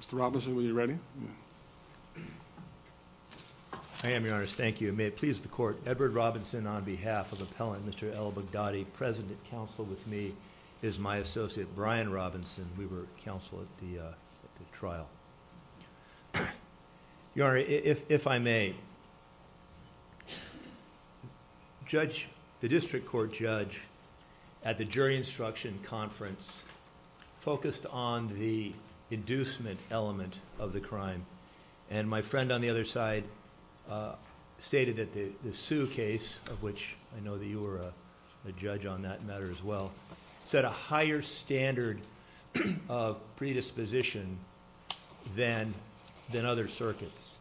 Mr. Robinson, were you ready? I am, Your Honor. Thank you. May it please the Court, Edward Robinson on behalf of Appellant Mr. Elboghdady, present at counsel with me is my associate Brian Robinson. We were counsel at the trial. Your Honor, if I may, the district court judge at the jury instruction conference focused on the inducement element of the crime. And my friend on the other side stated that the Sue case, of which I know that you were a judge on that matter as well, set a higher standard of predisposition than other circuits.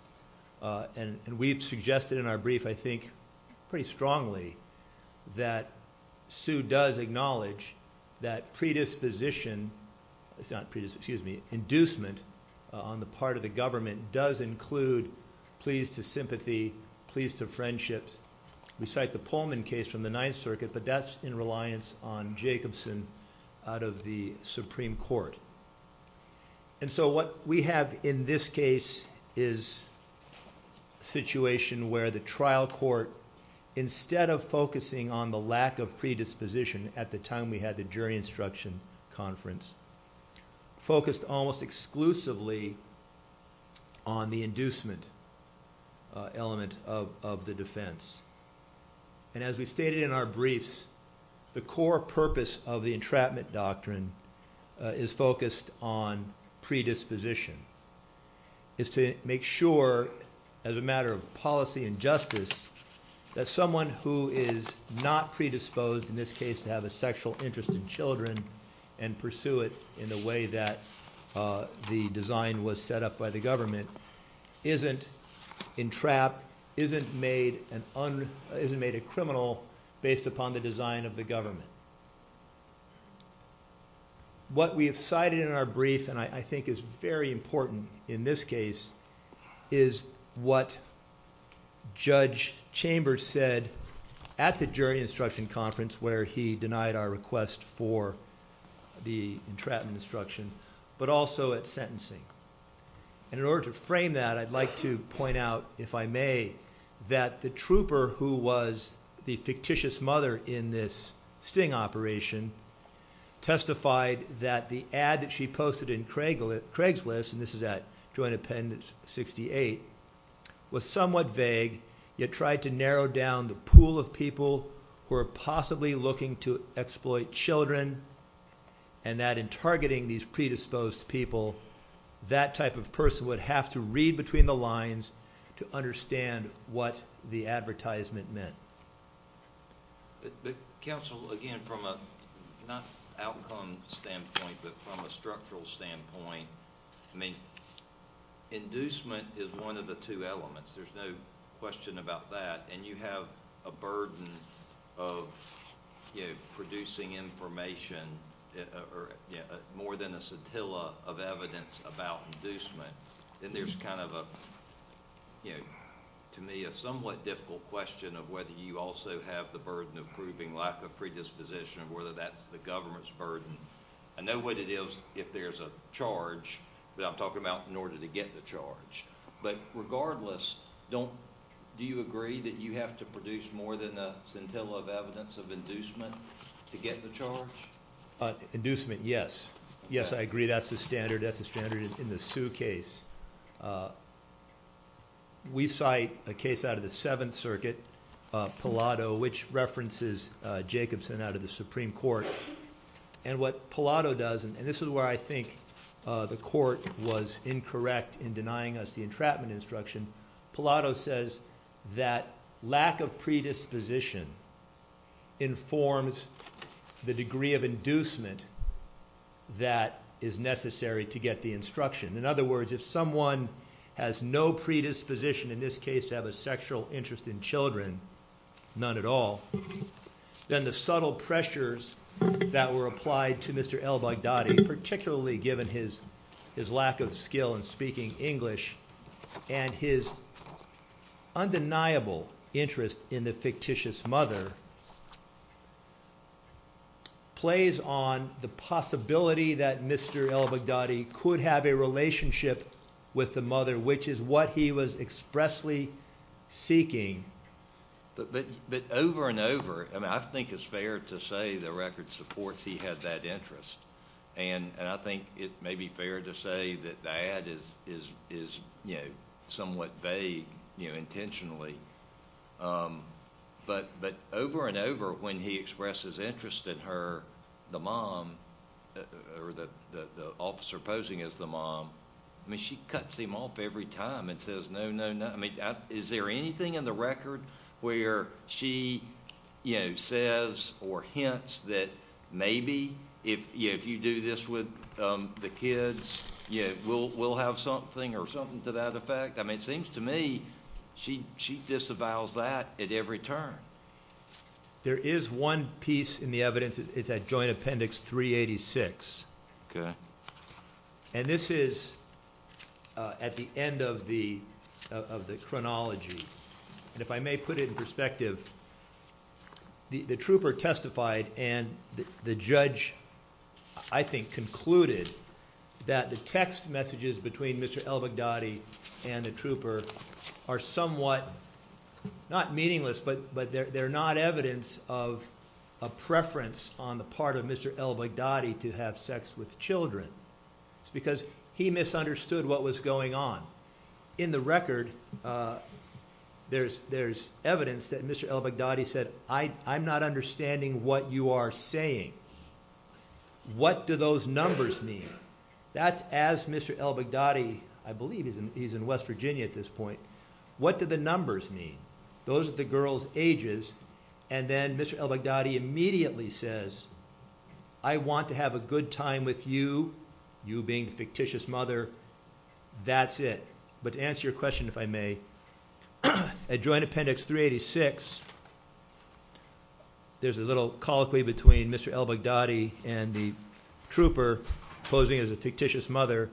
And we've suggested in our brief, I think pretty strongly, that Sue does acknowledge that inducement on the part of the government does include pleas to sympathy, pleas to friendships. We cite the Pullman case from the Ninth Circuit, but that's in reliance on Jacobson out of the Supreme Court. And so what we have in this case is a situation where the trial court, instead of focusing on the lack of predisposition at the time we had the jury instruction conference, focused almost exclusively on the inducement element of the defense. And as we stated in our briefs, the core purpose of the entrapment doctrine is focused on predisposition. It's to make sure as a matter of policy and justice that someone who is not predisposed in this case to have a sexual interest in children and pursue it in the way that the design was set up by the government isn't entrapped, isn't made a criminal based upon the design of the government. What we have cited in our brief, and I think is very important in this case, is what Judge Chambers said at the jury instruction conference where he denied our request for the entrapment instruction, but also at sentencing. And in order to frame that, I'd like to point out, if I may, that the trooper who was the fictitious mother in this sting operation testified that the ad that she posted in Craigslist, and this is at Joint Appendix 68, was somewhat vague, yet tried to narrow down the predisposed people. That type of person would have to read between the lines to understand what the advertisement meant. But counsel, again, from a, not outcome standpoint, but from a structural standpoint, I mean, inducement is one of the two elements. There's no question about that. And you have a burden of producing information, more than a scintilla of evidence about inducement. And there's kind of a, to me, a somewhat difficult question of whether you also have the burden of proving lack of predisposition or whether that's the government's burden. I know what it is if there's a charge, but I'm talking about in order to get the charge. But regardless, do you agree that you have to have scintilla of evidence of inducement to get the charge? Inducement, yes. Yes, I agree. That's the standard. That's the standard in the Sue case. We cite a case out of the Seventh Circuit, Pallado, which references Jacobson out of the Supreme Court. And what Pallado does, and this is where I think the court was incorrect in denying us the entrapment instruction, Pallado says that lack of predisposition informs the degree of inducement that is necessary to get the instruction. In other words, if someone has no predisposition, in this case, to have a sexual interest in children, none at all, then the subtle pressures that were applied to Mr. El-Baghdadi, particularly given his lack of skill in speaking English and his undeniable interest in the fictitious mother, plays on the possibility that Mr. El-Baghdadi could have a relationship with the mother, which is what he was expressly seeking. But over and over, I think it's fair to say the record supports he had that interest. And I think it may be fair to say that that is somewhat vague intentionally. But over and over, when he expresses interest in her, the officer posing as the mom, I mean, she cuts him off every time and says, no, no, no. I mean, is there anything in the record where she says or hints that maybe if you do this with the kids, we'll have something or something to that effect? I mean, it seems to me she disavows that at every turn. There is one piece in the evidence. It's at Joint Appendix 386. And this is at the end of the chronology. And if I may put it in perspective, the trooper testified and the judge, I think, concluded that the text messages between Mr. El-Baghdadi and the trooper are somewhat not meaningless, but they're not evidence of a preference on the part of Mr. El-Baghdadi to have sex with children. It's because he misunderstood what was going on. In the record, there's evidence that Mr. El-Baghdadi said, I'm not understanding what you are saying. What do those numbers mean? That's as Mr. El-Baghdadi, I believe he's in West Virginia at this point, what do the numbers mean? Those are the girls' ages. And then Mr. El-Baghdadi immediately says, I want to have a good time with you, you being the fictitious mother. That's it. But to answer your question, if I may, at Joint Appendix 386, there's a little colloquy between Mr. El-Baghdadi and the trooper posing as a fictitious mother.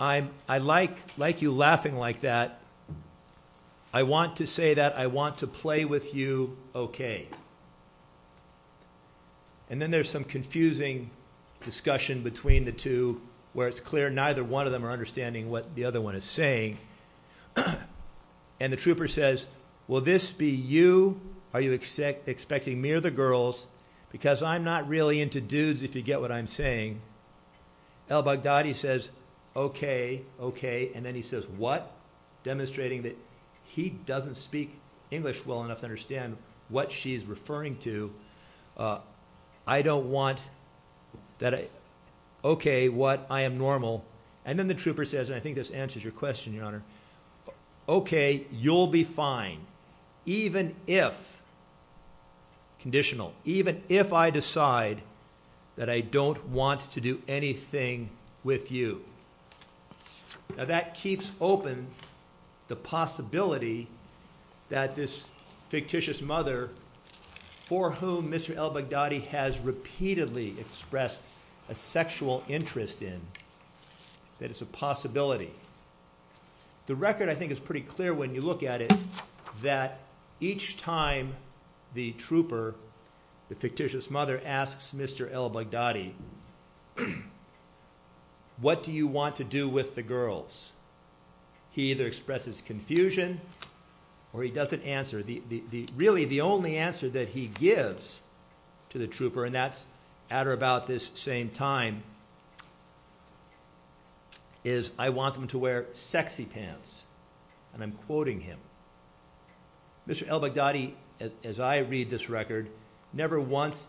I like you laughing like that. I want to say that I want to play with you okay. And then there's some confusing discussion between the two where it's clear neither one of them are you. Are you expecting me or the girls? Because I'm not really into dudes, if you get what I'm saying. El-Baghdadi says, okay, okay. And then he says, what? Demonstrating that he doesn't speak English well enough to understand what she's referring to. I don't want that. Okay, what? I am normal. And then the trooper says, and I think this answers your question, Your Honor. Okay, you'll be fine, even if, conditional, even if I decide that I don't want to do anything with you. Now that keeps open the possibility that this fictitious mother, for whom Mr. El-Baghdadi has repeatedly expressed a sexual interest in, that it's a possibility. The record, I think, is pretty clear when you look at it that each time the trooper, the fictitious mother, asks Mr. El-Baghdadi, what do you want to do with the girls? He either expresses confusion or he doesn't answer. Really, the only answer that he gives to the trooper, and that's at or about this same time, is, I want them to wear sexy pants. And I'm quoting him. Mr. El-Baghdadi, as I read this record, never once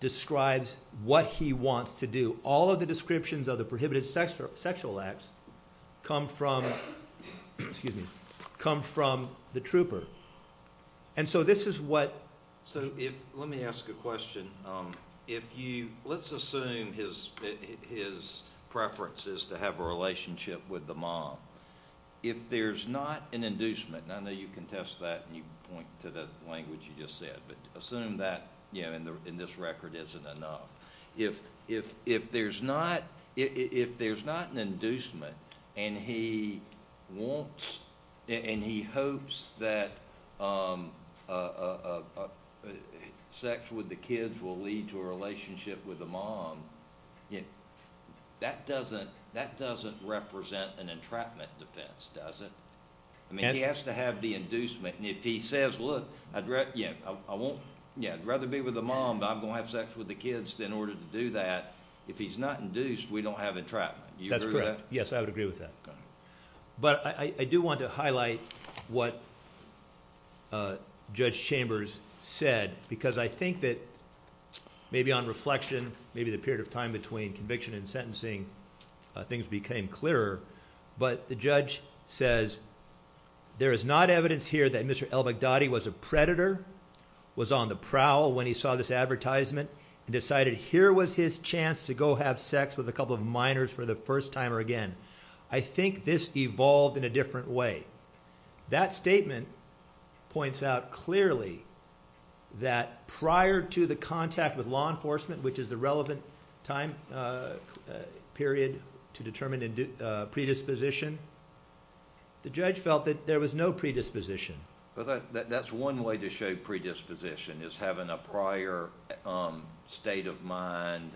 describes what he wants to do. All of the descriptions of the prohibited sexual acts come from, excuse me, come from the trooper. And so this is what, so if, let me ask a question. If you, let's assume his preference is to have a relationship with the mom. If there's not an inducement, and I know you can test that and you point to the language you just said, but assume that in this record isn't enough. If there's not an inducement and he wants, and he hopes that sex with the kids will lead to a relationship with the mom, that doesn't represent an entrapment defense, does it? I mean, he has to have the inducement. If he says, look, I'd rather be with the mom, but I'm going to have sex with the kids, then in order to do that, if he's not induced, we don't have entrapment. Do you agree with that? Yes, I would agree with that. But I do want to highlight what Judge Chambers said, because I think that maybe on reflection, maybe the period of time between conviction and sentencing, things became clearer. But the judge says, there is not evidence here that Mr. El-Baghdadi was a predator, was on the prowl when he saw this advertisement, and decided here was his chance to go have sex with a couple of minors for the first time or again. I think this evolved in a different way. That statement points out clearly that prior to the contact with law enforcement, which is the relevant time period to determine a predisposition, the judge felt that there was no predisposition. That's one way to show predisposition, is having a prior state of mind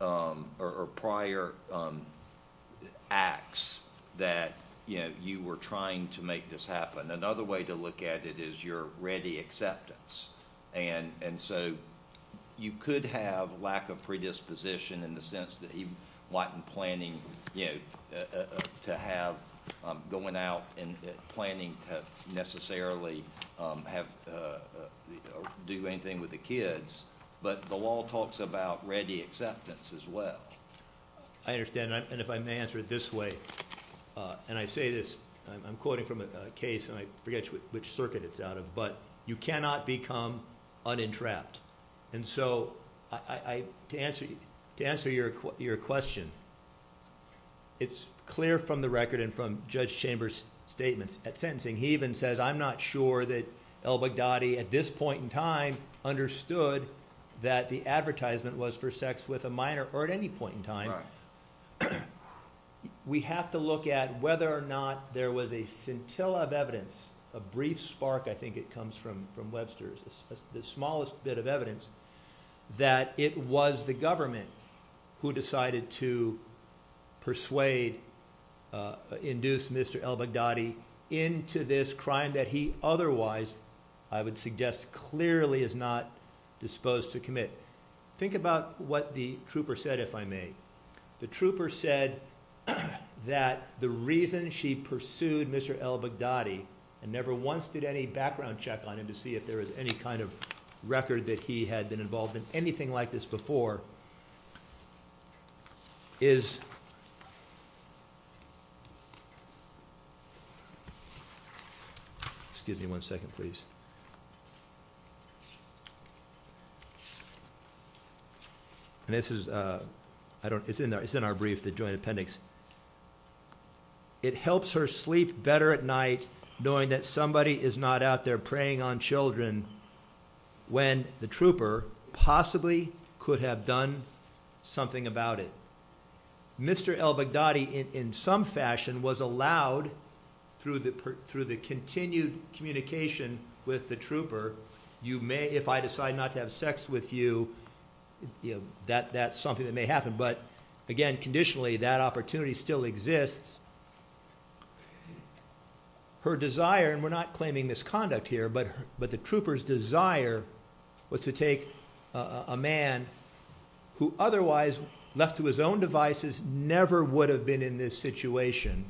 or prior acts that you were trying to make this happen. Another way to look at it is your acceptance. You could have lack of predisposition in the sense that he wasn't planning to have, going out and planning to necessarily do anything with the kids, but the law talks about ready acceptance as well. I understand. If I may answer it this way, and I say this, I'm quoting from a which circuit it's out of, but you cannot become unentrapped. To answer your question, it's clear from the record and from Judge Chambers' statements at sentencing, he even says, I'm not sure that El-Baghdadi at this point in time understood that the advertisement was for sex with a minor or at any point in time. We have to look at whether or not there was a scintilla of evidence, a brief spark I think it comes from Webster's, the smallest bit of evidence, that it was the government who decided to persuade, induce Mr. El-Baghdadi into this crime that he otherwise, I would suggest, clearly is not disposed to commit. Think about what the trooper said, if I may. The trooper said that the reason she pursued Mr. El-Baghdadi and never once did any background check on him to see if there was any kind of record that he had been involved in I don't, it's in there, it's in our brief, the joint appendix. It helps her sleep better at night knowing that somebody is not out there preying on children when the trooper possibly could have done something about it. Mr. El-Baghdadi in some fashion was allowed through the continued communication with the trooper, you may, if I decide not to have sex with you, that's something that may happen, but again conditionally that opportunity still exists. Her desire, and we're not claiming misconduct here, but the trooper's desire was to take a man who otherwise, left to his own devices, never would have been in this situation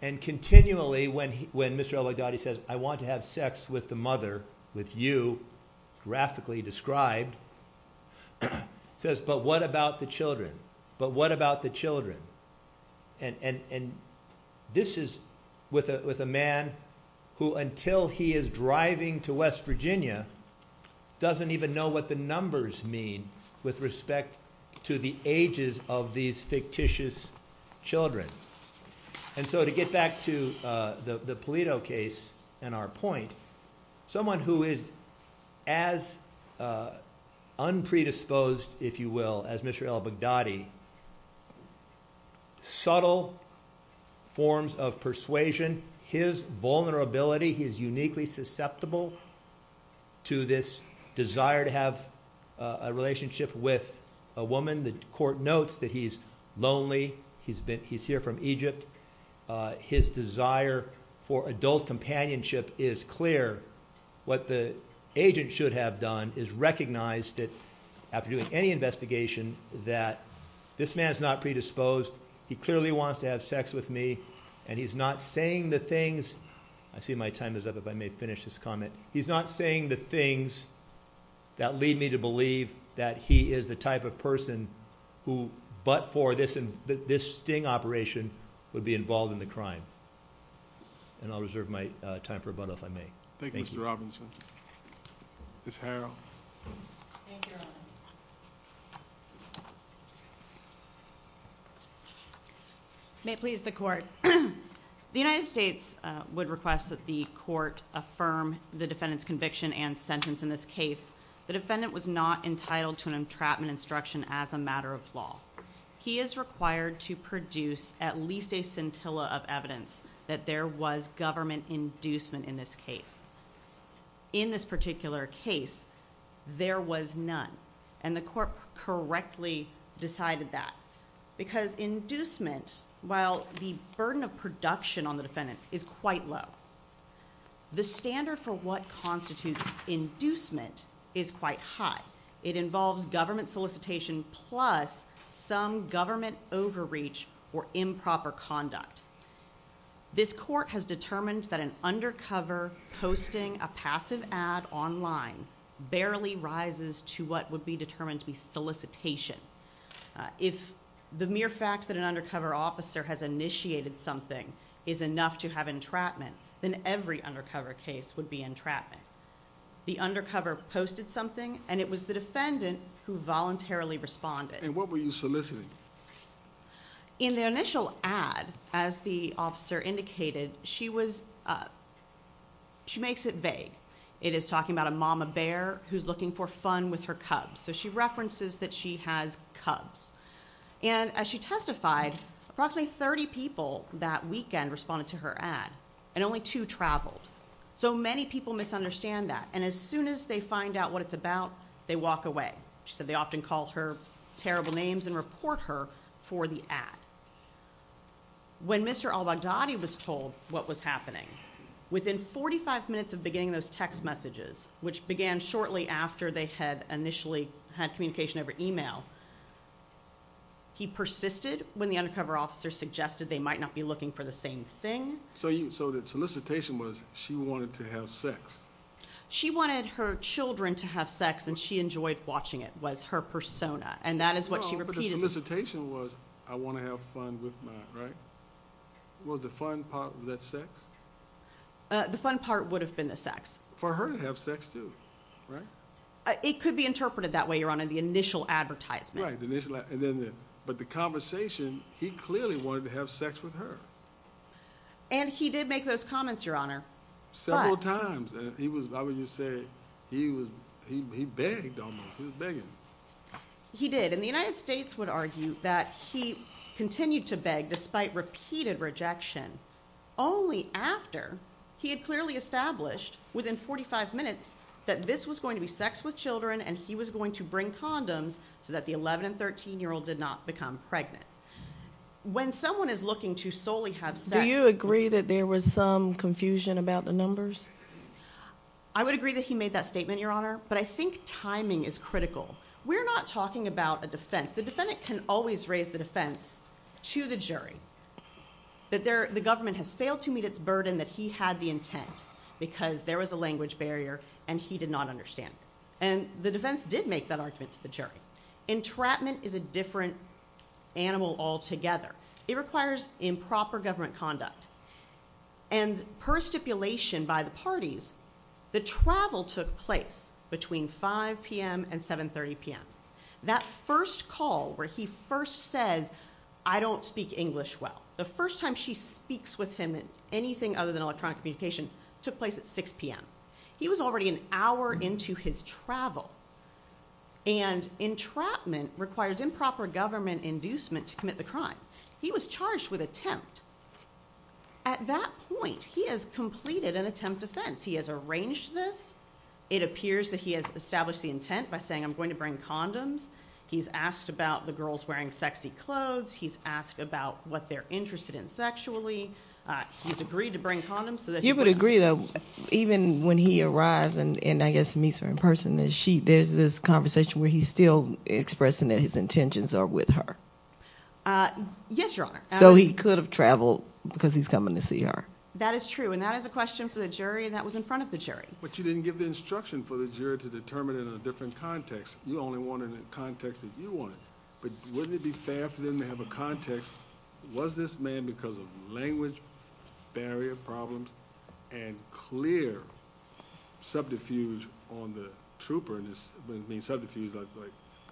and continually when Mr. El-Baghdadi says, I want to have sex with the mother, with you, graphically described, says, but what about the children? But what about the children? And this is with a man who until he is driving to West Virginia doesn't even know what the numbers mean with respect to the ages of these fictitious children. And so to get back to the Polito case and our point, someone who is as un-predisposed, if you will, as Mr. El-Baghdadi, subtle forms of persuasion, his vulnerability, he is uniquely susceptible to this desire to have a relationship with a woman, the court notes that he's lonely, he's here from Egypt, his desire for adult companionship is clear. What the agent should have done is recognized that after doing any investigation that this man is not predisposed, he clearly wants to have sex with me, and he's not saying the things, I see my time is up, if I may finish this comment, he's not saying the things that lead me to believe that he is the type of person who, but for this sting operation, would be involved in the crime. And I'll reserve my time for a but if I may. Thank you, Mr. Robinson. Ms. Harrell. May it please the court. The United States would request that the court affirm the defendant's entrapment instruction as a matter of law. He is required to produce at least a scintilla of evidence that there was government inducement in this case. In this particular case, there was none, and the court correctly decided that. Because inducement, while the burden of production on the defendant is quite low, the standard for what constitutes inducement is quite high. It involves government solicitation plus some government overreach or improper conduct. This court has determined that an undercover posting a passive ad online barely rises to what would be determined to be solicitation. If the mere fact that an undercover officer has initiated something is enough to have entrapment, then every undercover case would be entrapment. The undercover posted something, and it was the defendant who voluntarily responded. And what were you soliciting? In the initial ad, as the officer indicated, she was, she makes it vague. It is talking about a mama bear who's looking for fun with her cubs. So she references that she has cubs. And as she testified, approximately 30 people that weekend responded to her ad, and only two traveled. So many people misunderstand that. And as soon as they find out what it's about, they walk away. She said they often called her terrible names and report her for the ad. When Mr. Al-Baghdadi was told what was happening, within 45 minutes of beginning those text messages, which began shortly after they had initially had communication over email, he persisted when the undercover officer suggested they might not be looking for the same thing. So the solicitation was she wanted to have sex? She wanted her children to have sex, and she enjoyed watching it, was her persona. And that is what she repeated. But the solicitation was, I want to have fun with my, right? Was the fun part of that sex? The fun part would have been the sex. For her to have sex too, right? It could be interpreted that way, Your Honor, the initial advertisement. Right, the initial ad. But the conversation, he clearly wanted to have sex with her. And he did make those comments, Your Honor. Several times. He was, I would just say, he was, he begged almost. He was begging. He did. And the United States would argue that he continued to beg despite repeated rejection, only after he had clearly established within 45 minutes that this was going to be sex with children, and he was going to bring condoms so that the 11 and 13-year-old did not become pregnant. When someone is looking to solely have sex. Do you agree that there was some confusion about the numbers? I would agree that he made that statement, Your Honor. But I think timing is critical. We're not talking about a defense. The defendant can always raise the defense to the jury. That the government has failed to meet its burden, that he had the intent because there was a language barrier, and he did not understand it. And the defense did make that statement. Entrapment is a different animal altogether. It requires improper government conduct. And per stipulation by the parties, the travel took place between 5 p.m. and 7 30 p.m. That first call where he first says, I don't speak English well. The first time she speaks with him in anything other than electronic communication took place at 6 p.m. He was already an hour into his travel. And entrapment requires improper government inducement to commit the crime. He was charged with attempt. At that point, he has completed an attempt defense. He has arranged this. It appears that he has established the intent by saying, I'm going to bring condoms. He's asked about the girls wearing sexy clothes. He's asked about what they're interested in sexually. He's agreed to this conversation where he's still expressing that his intentions are with her. Yes, your honor. So he could have traveled because he's coming to see her. That is true. And that is a question for the jury. And that was in front of the jury. But you didn't give the instruction for the jury to determine it in a different context. You only wanted a context that you wanted. But wouldn't it be fair for them to have a context? Was this man because of language barrier problems and clear subterfuge on the trooper in this subterfuge?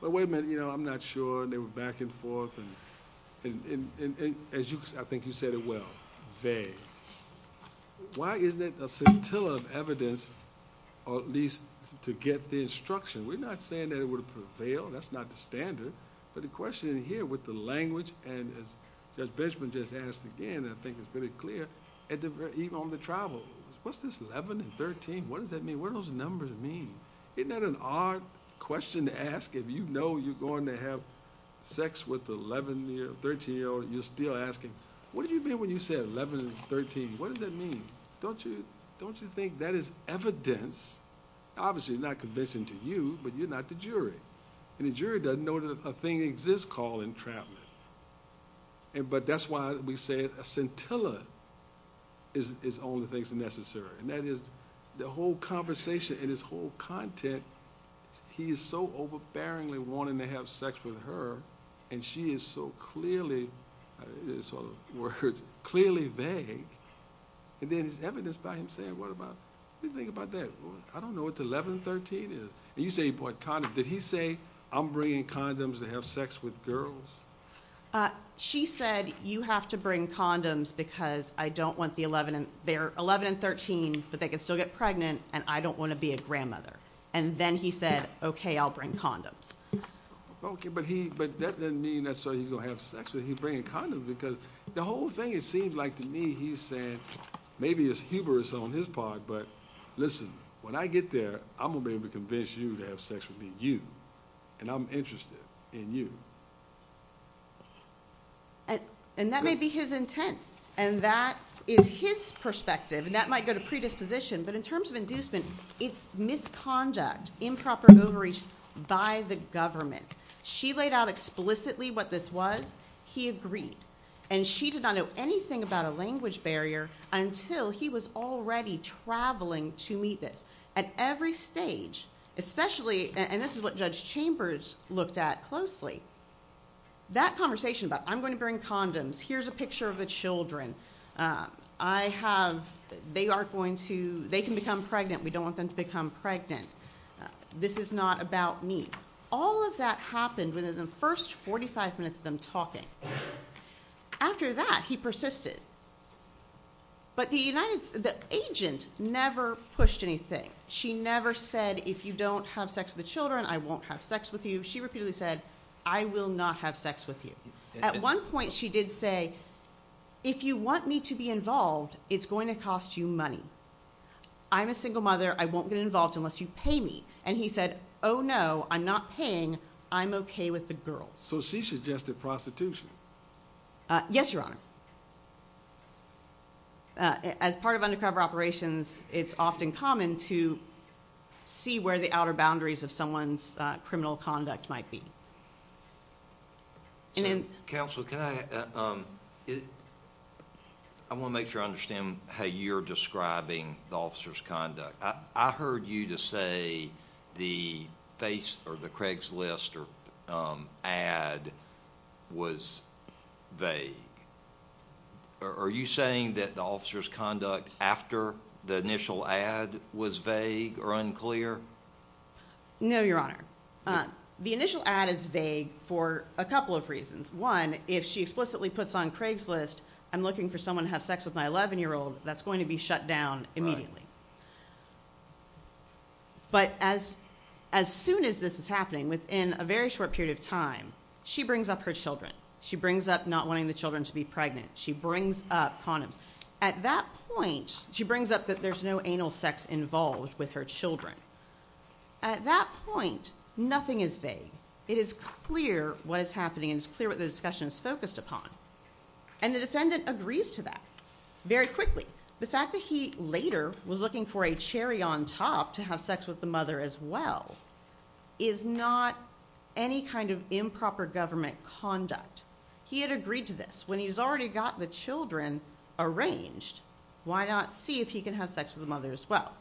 But wait a minute, you know, I'm not sure they were back and forth. And as I think you said it well, they why isn't it a scintilla of evidence or at least to get the instruction? We're not saying that it would prevail. That's not the standard. But the question here with the language and as pretty clear even on the travel, what's this 11 and 13? What does that mean? Where those numbers mean? Isn't that an odd question to ask? If you know you're going to have sex with the 11 year, 13 year old, you're still asking, what do you mean when you said 11 and 13? What does that mean? Don't you? Don't you think that is evidence? Obviously not convincing to you, but you're not the jury. And the jury doesn't know that a thing exists called entrapment. And but that's why we say a scintilla is is only things necessary. And that is the whole conversation and his whole content. He is so overbearingly wanting to have sex with her and she is so clearly sort of words clearly vague. And then his evidence by him saying what about you think about that? I don't know what the 11 and 13 is. And you say what kind of did he say? I'm bringing condoms to have sex with girls. She said you have to bring condoms because I don't want the 11 and they're 11 and 13, but they can still get pregnant. And I don't want to be a grandmother. And then he said, okay, I'll bring condoms. Okay, but he but that doesn't mean that so he's gonna have sex with you bringing condoms because the whole thing, it seemed like to me, he said, maybe it's humorous on his part. But listen, when I get there, I'm gonna be able to convince you to have sex with you. And I'm interested in you. And that may be his intent. And that is his perspective. And that might go to predisposition. But in terms of inducement, it's misconduct, improper overreach by the government. She laid out explicitly what this was, he agreed. And she did not know anything about a language barrier until he was already traveling to meet this at every stage, especially and this is what Judge Chambers looked at closely. That conversation about I'm going to bring condoms, here's a picture of the children. I have they are going to they can become pregnant, we don't want them to become pregnant. This is not about me. All of that happened within the first 45 minutes of them talking. After that, he persisted. But the United the agent never pushed anything. She never said, if you don't have sex with the children, I won't have sex with you. She repeatedly said, I will not have sex with you. At one point, she did say, if you want me to be involved, it's going to cost you money. I'm a single mother, I won't get involved unless you pay me. And he said, Oh, no, I'm not paying. I'm okay with the girl. So she suggested prostitution. Yes, Your Honor. As part of undercover operations, it's often common to see where the outer boundaries of someone's criminal conduct might be. Counsel, can I I want to make sure I understand how you're describing the officer's conduct. I heard you say the face or the Craigslist or ad was vague. Are you saying that the officer's conduct after the initial ad was vague or unclear? No, Your Honor. The initial ad is vague for a couple of reasons. One, if she explicitly puts on Craigslist, I'm looking for someone to have sex with my 11 year old, that's going to be shut down immediately. But as soon as this is happening, within a very short period of time, she brings up her children. She brings up not wanting the children to be pregnant. She brings up condoms. At that point, she brings up that there's no anal sex involved with her children. At that point, nothing is vague. It is clear what is happening. It's clear what the discussion is The fact that he later was looking for a cherry on top to have sex with the mother as well is not any kind of improper government conduct. He had agreed to this. When he's already got the children arranged, why not see if he can have sex with the mother as well?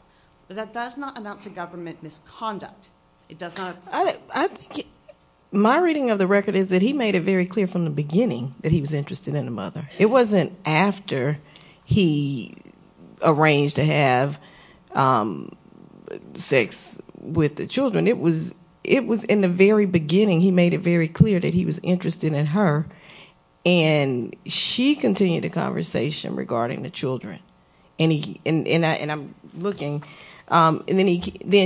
But that does not amount to government misconduct. My reading of the record is that he made it very clear from the beginning that he was interested in the mother. It wasn't after he arranged to have sex with the children. It was in the very beginning. He made it very clear that he was interested in her. She continued the conversation regarding the children. Then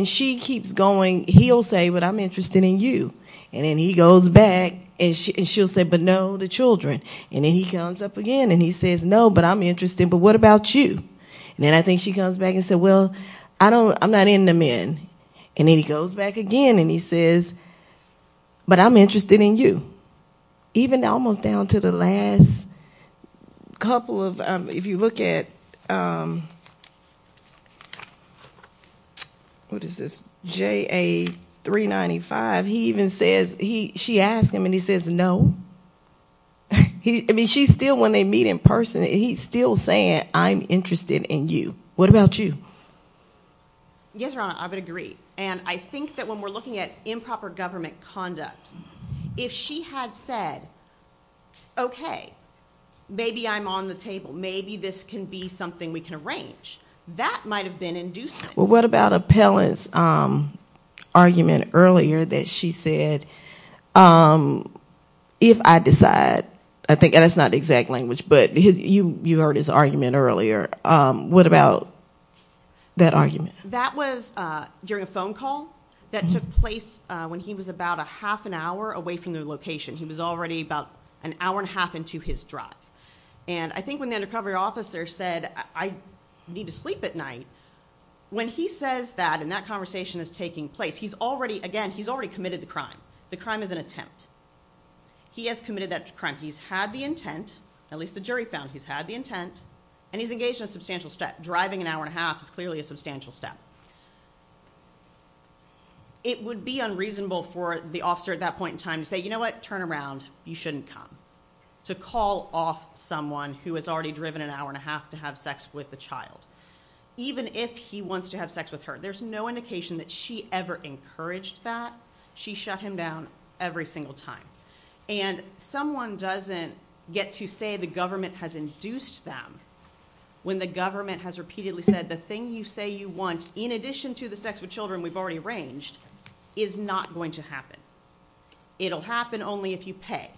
she keeps going. He'll say, I'm interested in you. Then he goes back and she'll say, but no, the children. Then he comes up again and he says, no, but I'm interested, but what about you? Then I think she comes back and says, well, I'm not into men. Then he goes back again and he says, but I'm interested in you. Even almost down to the last couple of, if you look at what is this, JA 395, she asked him and he says, no. I mean, she's still, when they meet in person, he's still saying, I'm interested in you. What about you? Yes, Your Honor, I would agree. I think that when we're looking at improper government conduct, if she had said, okay, maybe I'm on the table. Maybe this can be something we can arrange. That might've been inducing. Well, what about Appellant's argument earlier that she said, if I decide, I think, and it's not the exact language, but because you heard his argument earlier. What about that argument? That was during a phone call that took place when he was about a half an hour away from the location. He was already about an hour and a half into his drive. I think when the undercover officer said, I need to sleep at night, when he says that, and that conversation is taking place, he's already, again, he's already committed the crime. The crime is an attempt. He has committed that crime. He's had the intent, at least the jury found he's had the intent, and he's engaged in a substantial step. Driving an officer at that point in time to say, you know what? Turn around. You shouldn't come. To call off someone who has already driven an hour and a half to have sex with the child. Even if he wants to have sex with her, there's no indication that she ever encouraged that. She shut him down every single time. Someone doesn't get to say the government has induced them when the government has repeatedly said, the thing you say you want, in addition to the sex with children we've already arranged, is not going to happen. It'll happen only if you pay.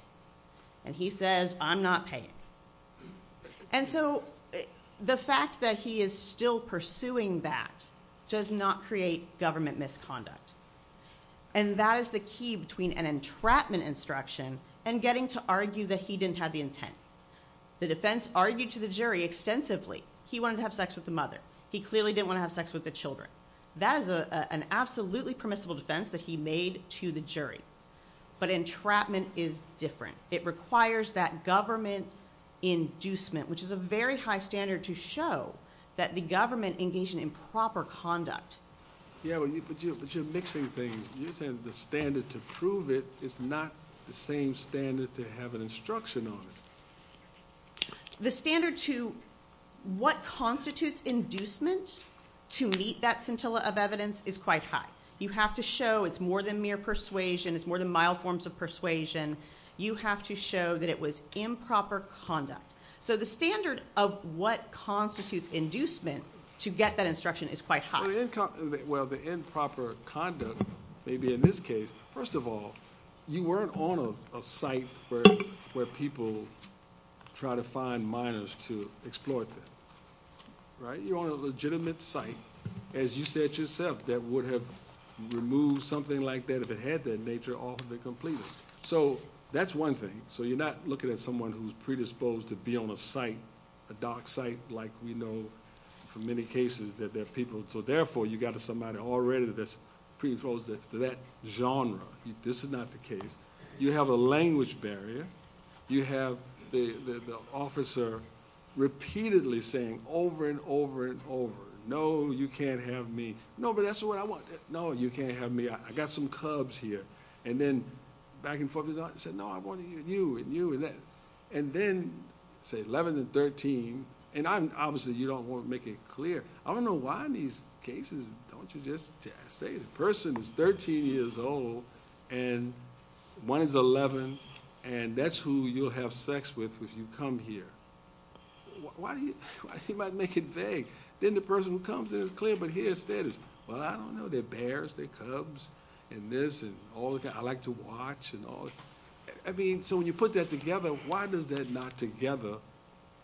And he says, I'm not paying. And so the fact that he is still pursuing that does not create government misconduct. And that is the key between an entrapment instruction and getting to argue that he didn't have the intent. The defense argued to the jury extensively, he wanted to have sex with the mother. He clearly didn't want to have sex with the children. That is an absolutely permissible defense that he made to the jury. But entrapment is different. It requires that government inducement, which is a very high standard to show that the government engaged in improper conduct. Yeah, but you're mixing things. You're saying the standard to prove it is not the same standard to have an instruction on it. The standard to what constitutes inducement to meet that scintilla of evidence is quite high. You have to show it's more than mere persuasion. It's more than mild forms of persuasion. You have to show that it was improper conduct. So the standard of what constitutes inducement to get that instruction is quite high. Well, the improper conduct, maybe in this case, first of all, you weren't on a site where people try to find minors to exploit them, right? You're on a legitimate site, as you said yourself, that would have removed something like that if it had that nature off the completed. So that's one thing. So you're not looking at someone who's predisposed to be on a site, a dark site, like we know from many cases that therefore you got to somebody already that's predisposed to that genre. This is not the case. You have a language barrier. You have the officer repeatedly saying over and over and over, no, you can't have me. No, but that's what I want. No, you can't have me. I got some cubs here. And then back and forth, he said, no, I want you and you and that. And then say 11 and 13. And obviously, you don't want to make it clear. I don't know why in these cases, don't you just say the person is 13 years old and one is 11, and that's who you'll have sex with if you come here. You might make it vague. Then the person who comes in is clear, but here's status. Well, I don't know, they're bears, they're cubs, and this and all that. I like to watch and all. I mean, so when you put that together, why does that not together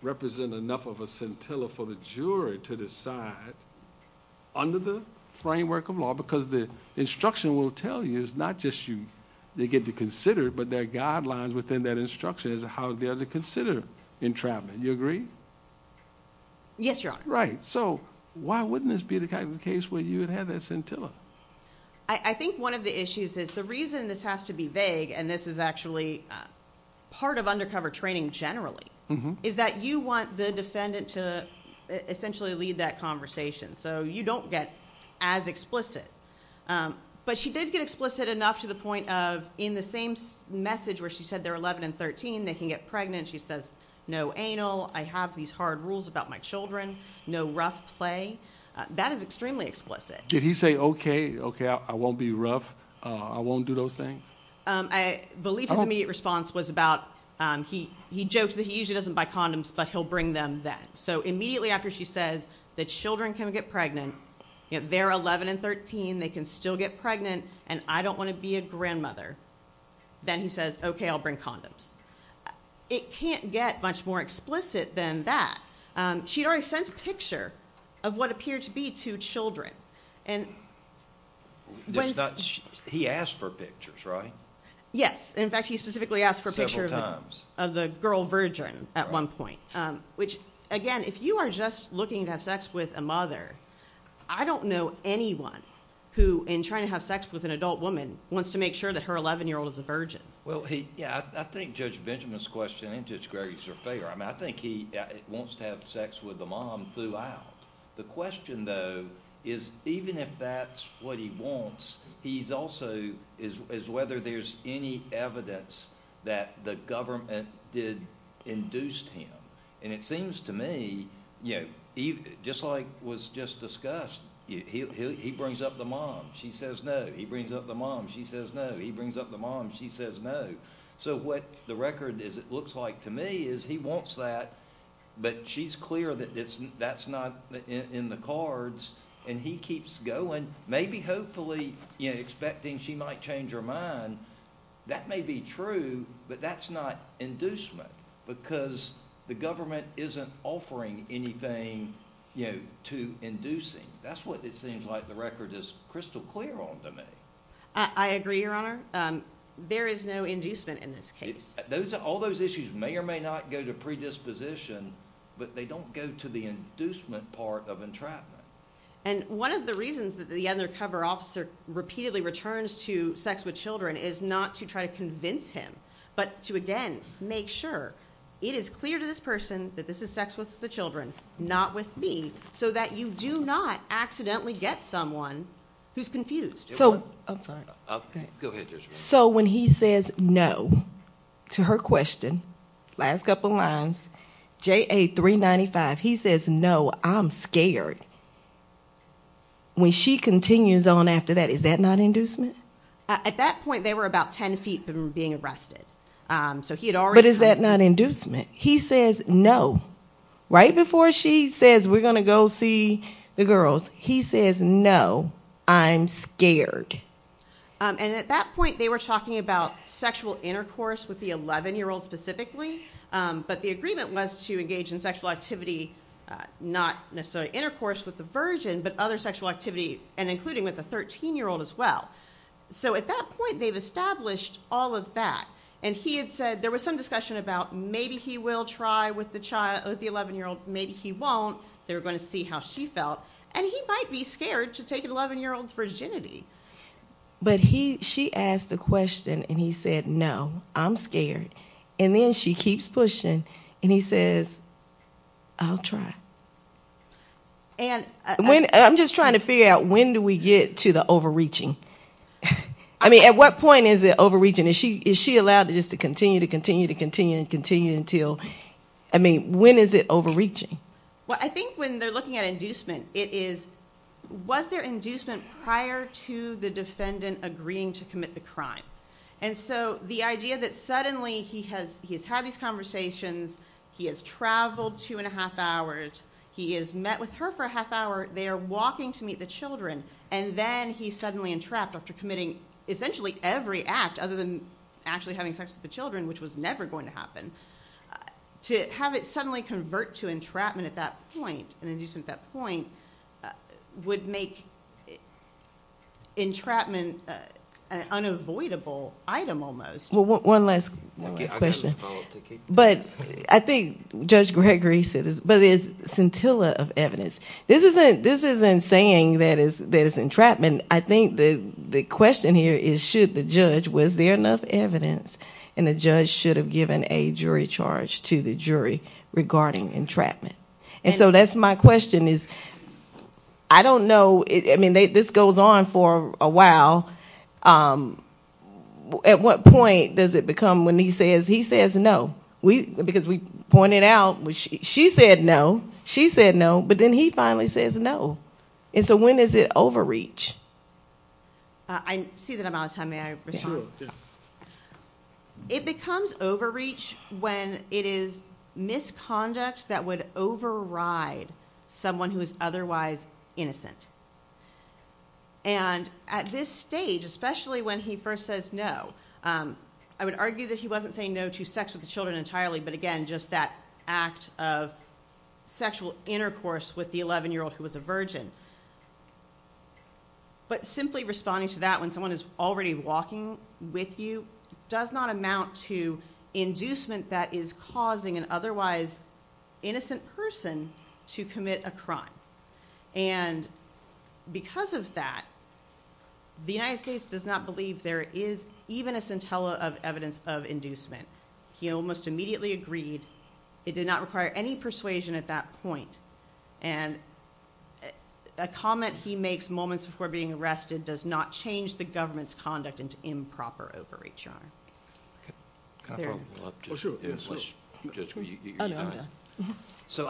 represent enough of a scintilla for the jury to decide under the framework of law? Because the instruction will tell you it's not just you, they get to consider it, but their guidelines within that instruction is how they are to consider entrapment. You agree? Yes, Your Honor. Right. So why wouldn't this be the kind of case where you would have that scintilla? I think one of the issues is the reason this has to be vague, and this is actually part of undercover training generally, is that you want the defendant to essentially lead that conversation. So you don't get as explicit. But she did get explicit enough to the point of in the same message where she said they're 11 and 13, they can get pregnant. She says, no anal, I have these hard rules about my children, no rough play. That is extremely explicit. Did he say, okay, okay, I won't be rough, I won't do those things? I believe his immediate response was about he joked that he usually doesn't buy condoms, but he'll bring them then. So immediately after she says that children can get pregnant, they're 11 and 13, they can still get pregnant, and I don't want to be a grandmother. Then he says, okay, I'll bring condoms. It can't get much more explicit than that. She'd already sent a picture of what and he asked for pictures, right? Yes. In fact, he specifically asked for a picture of the girl virgin at one point, which again, if you are just looking to have sex with a mother, I don't know anyone who in trying to have sex with an adult woman wants to make sure that her 11-year-old is a virgin. Well, yeah, I think Judge Benjamin's question and Judge Gregory's are fair. I mean, he wants to have sex with the mom throughout. The question, though, is even if that's what he wants, he's also is whether there's any evidence that the government did induce him. And it seems to me, just like was just discussed, he brings up the mom, she says no. He brings up the mom, she says no. He brings up the mom, she says no. So what the record looks like to me is he wants that, but she's clear that that's not in the cards and he keeps going, maybe hopefully expecting she might change her mind. That may be true, but that's not inducement because the government isn't offering anything to induce him. That's what it seems like the record is crystal clear on to me. I agree, Your Honor. There is no inducement in this case. All those issues may or may not go to predisposition, but they don't go to the inducement part of entrapment. And one of the reasons that the undercover officer repeatedly returns to sex with children is not to try to convince him, but to, again, make sure it is clear to this person that this is sex with the children, not with me, so that you do not accidentally get someone who's confused. Go ahead, Judge. So when he says no to her question, last couple lines, JA 395, he says no, I'm scared. When she continues on after that, is that not inducement? At that point, they were about 10 feet from being arrested. But is that not inducement? He says no. Right before she says we're going to go see the girls, he says no, I'm scared. And at that point, they were talking about sexual intercourse with the 11-year-old specifically. But the agreement was to engage in sexual activity, not necessarily intercourse with the virgin, but other sexual activity, and including with the 13-year-old as well. So at that point, they've established all of that. And he had said there was some discussion about maybe he will try with the 11-year-old, maybe he won't. They were going to see how she felt. And he might be scared to take an 11-year-old's virginity. But she asked a question, and he said no, I'm scared. And then she keeps pushing, and he says, I'll try. And I'm just trying to figure out when do we get to the overreaching? I mean, at what point is it overreaching? Is she allowed just to continue, to continue, and continue until? I mean, when is it overreaching? Well, I think when they're looking at inducement, it is, was there inducement prior to the defendant agreeing to commit the crime? And so the idea that suddenly he has had these conversations, he has traveled two and a half hours, he has met with her for a half hour, they are walking to meet the children, and then he's suddenly entrapped after committing essentially every act other than actually having sex with the children, which was never going to happen. To have it suddenly convert to entrapment at that point, and inducement at that point, would make entrapment an unavoidable item almost. Well, one last question. But I think Judge Gregory said this, but there's scintilla of evidence. This isn't saying that it's entrapment. I think the question here is, the judge, was there enough evidence? And the judge should have given a jury charge to the jury regarding entrapment. And so that's my question is, I don't know. I mean, this goes on for a while. At what point does it become when he says no? Because we pointed out, she said no, she said no, but then he finally says no. And so when is it overreach? I see that I'm out of time. May I respond? It becomes overreach when it is misconduct that would override someone who is otherwise innocent. And at this stage, especially when he first says no, I would argue that he wasn't saying no to sex with the children entirely, but again, just that act of sexual intercourse with the 11-year-old who was a virgin. But simply responding to that when someone is already walking with you does not amount to inducement that is causing an otherwise innocent person to commit a crime. And because of that, the United States does not believe there is even a scintilla of evidence of inducement. He almost immediately agreed. It did not require any persuasion at that point. And a comment he makes moments before being arrested does not change the government's conduct into improper overreach, Your Honor. So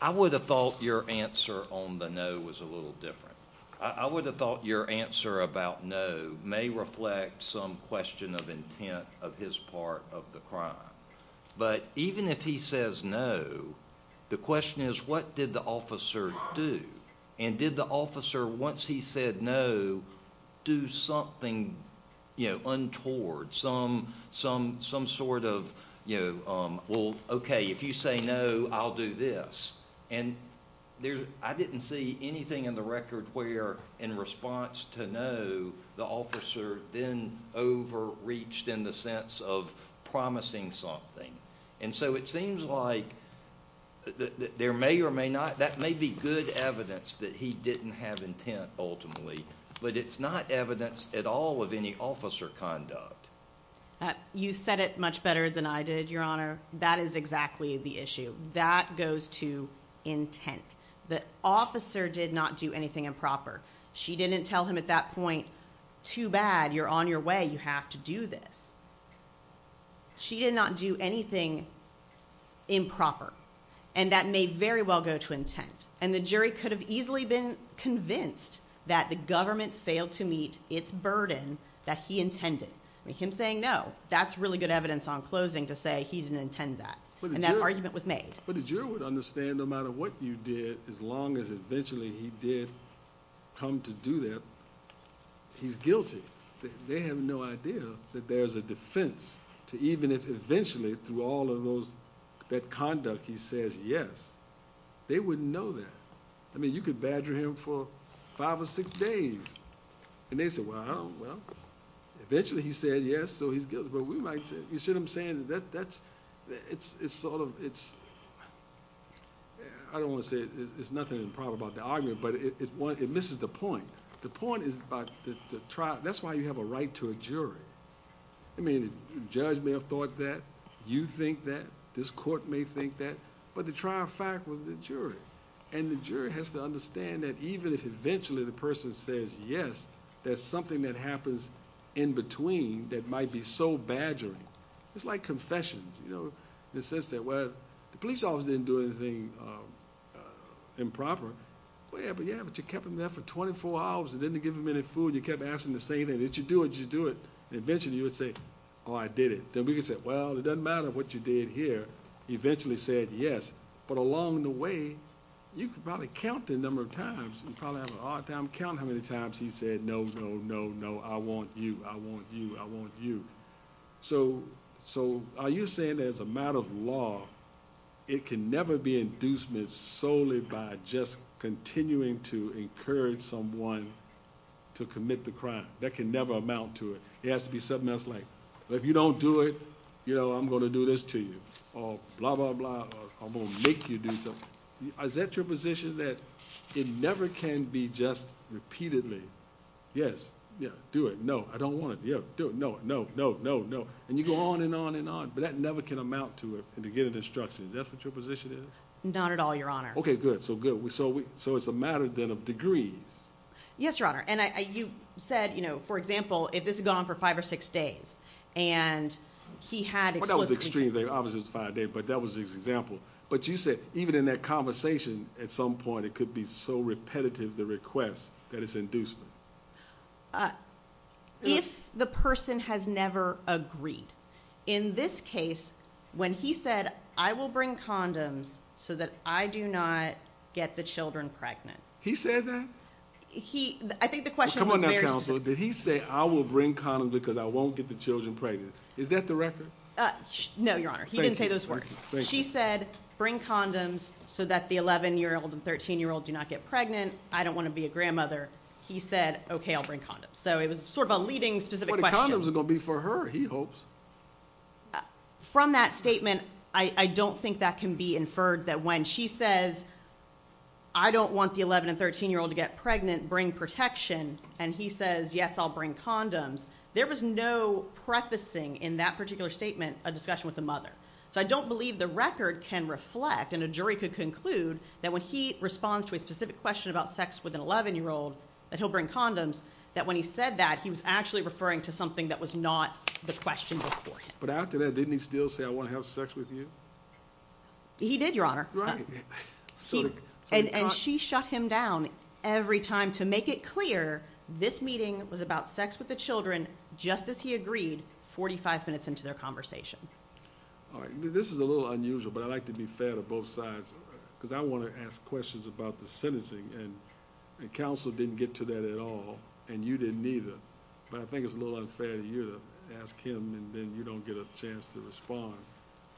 I would have thought your answer on the no was a little different. I would have thought your answer about no may reflect some question of intent of his part of the crime. But even if he did, the question is, what did the officer do? And did the officer, once he said no, do something untoward, some sort of, well, okay, if you say no, I'll do this? And I didn't see anything in the record where, in response to no, the officer then overreached in the sense of promising something. And so it seems like there may or may not, that may be good evidence that he didn't have intent ultimately, but it's not evidence at all of any officer conduct. You said it much better than I did, Your Honor. That is exactly the issue. That goes to intent. The officer did not do anything improper. She didn't tell him at that point, too bad, you're on your way, you have to do this. She did not do anything improper. And that may very well go to intent. And the jury could have easily been convinced that the government failed to meet its burden that he intended. Him saying no, that's really good evidence on closing to say he didn't intend that. And that argument was made. But the juror would understand no matter what you did, as long as eventually he did come to do that, he's guilty. They have no idea that there's a defense to even if eventually through all of those, that conduct, he says yes. They wouldn't know that. I mean, you could badger him for five or six days and they said, well, I don't know. Eventually he said yes, so he's guilty. But we might say, you see what I'm saying? That's, it's sort of, it's, I don't want to say it's nothing improper about the argument, but it misses the point. The point is about the trial. That's why you have a right to a jury. I mean, the judge may have thought that, you think that, this court may think that, but the trial fact was the jury. And the jury has to understand that even if eventually the person says yes, there's something that happens in badgering. It's like confession, you know, in the sense that, well, the police officer didn't do anything improper. Well, yeah, but you kept him there for 24 hours and didn't give him any food. You kept asking the same thing. Did you do it? Did you do it? And eventually you would say, oh, I did it. Then we could say, well, it doesn't matter what you did here. He eventually said yes. But along the way, you could probably count the number of times. You probably have a hard time he said, no, no, no, no. I want you. I want you. I want you. So are you saying as a matter of law, it can never be inducement solely by just continuing to encourage someone to commit the crime? That can never amount to it. It has to be something else like, well, if you don't do it, you know, I'm going to do this to you, or blah, blah, blah. I'm going to make you do something. Is that your position that it never can be just repeatedly? Yes. Yeah. Do it. No, I don't want it. Yeah. No, no, no, no, no. And you go on and on and on, but that never can amount to it and to get an instruction. Is that what your position is? Not at all, your honor. Okay, good. So good. So, so it's a matter then of degrees. Yes, your honor. And I, you said, you know, for example, if this had gone on for five or six days and he had, well, that was conversation at some point, it could be so repetitive, the request that is inducement. If the person has never agreed in this case, when he said, I will bring condoms so that I do not get the children pregnant. He said that he, I think the question was, did he say I will bring condoms because I won't get the children pregnant? Is that the record? No, your honor. He didn't say those words. She said, bring condoms so that the 11 year old and 13 year old do not get pregnant. I don't want to be a grandmother. He said, okay, I'll bring condoms. So it was sort of a leading specific questions are going to be for her. He hopes from that statement. I don't think that can be inferred that when she says, I don't want the 11 and 13 year old to get pregnant, bring protection. And he says, yes, I'll bring condoms. There was no prefacing in that particular statement, a discussion with the mother. So I don't believe the record can reflect and a jury could conclude that when he responds to a specific question about sex with an 11 year old that he'll bring condoms, that when he said that he was actually referring to something that was not the question. But after that, didn't he still say, I want to have sex with you. He did your honor. And she shut him down every time to make it clear this meeting was about sex with the children, just as he agreed 45 minutes into their conversation. All right. This is a little unusual, but I'd like to be fair to both sides because I want to ask questions about the sentencing and the council didn't get to that at all. And you didn't either, but I think it's a little unfair to you to ask him and then you don't get a chance to respond.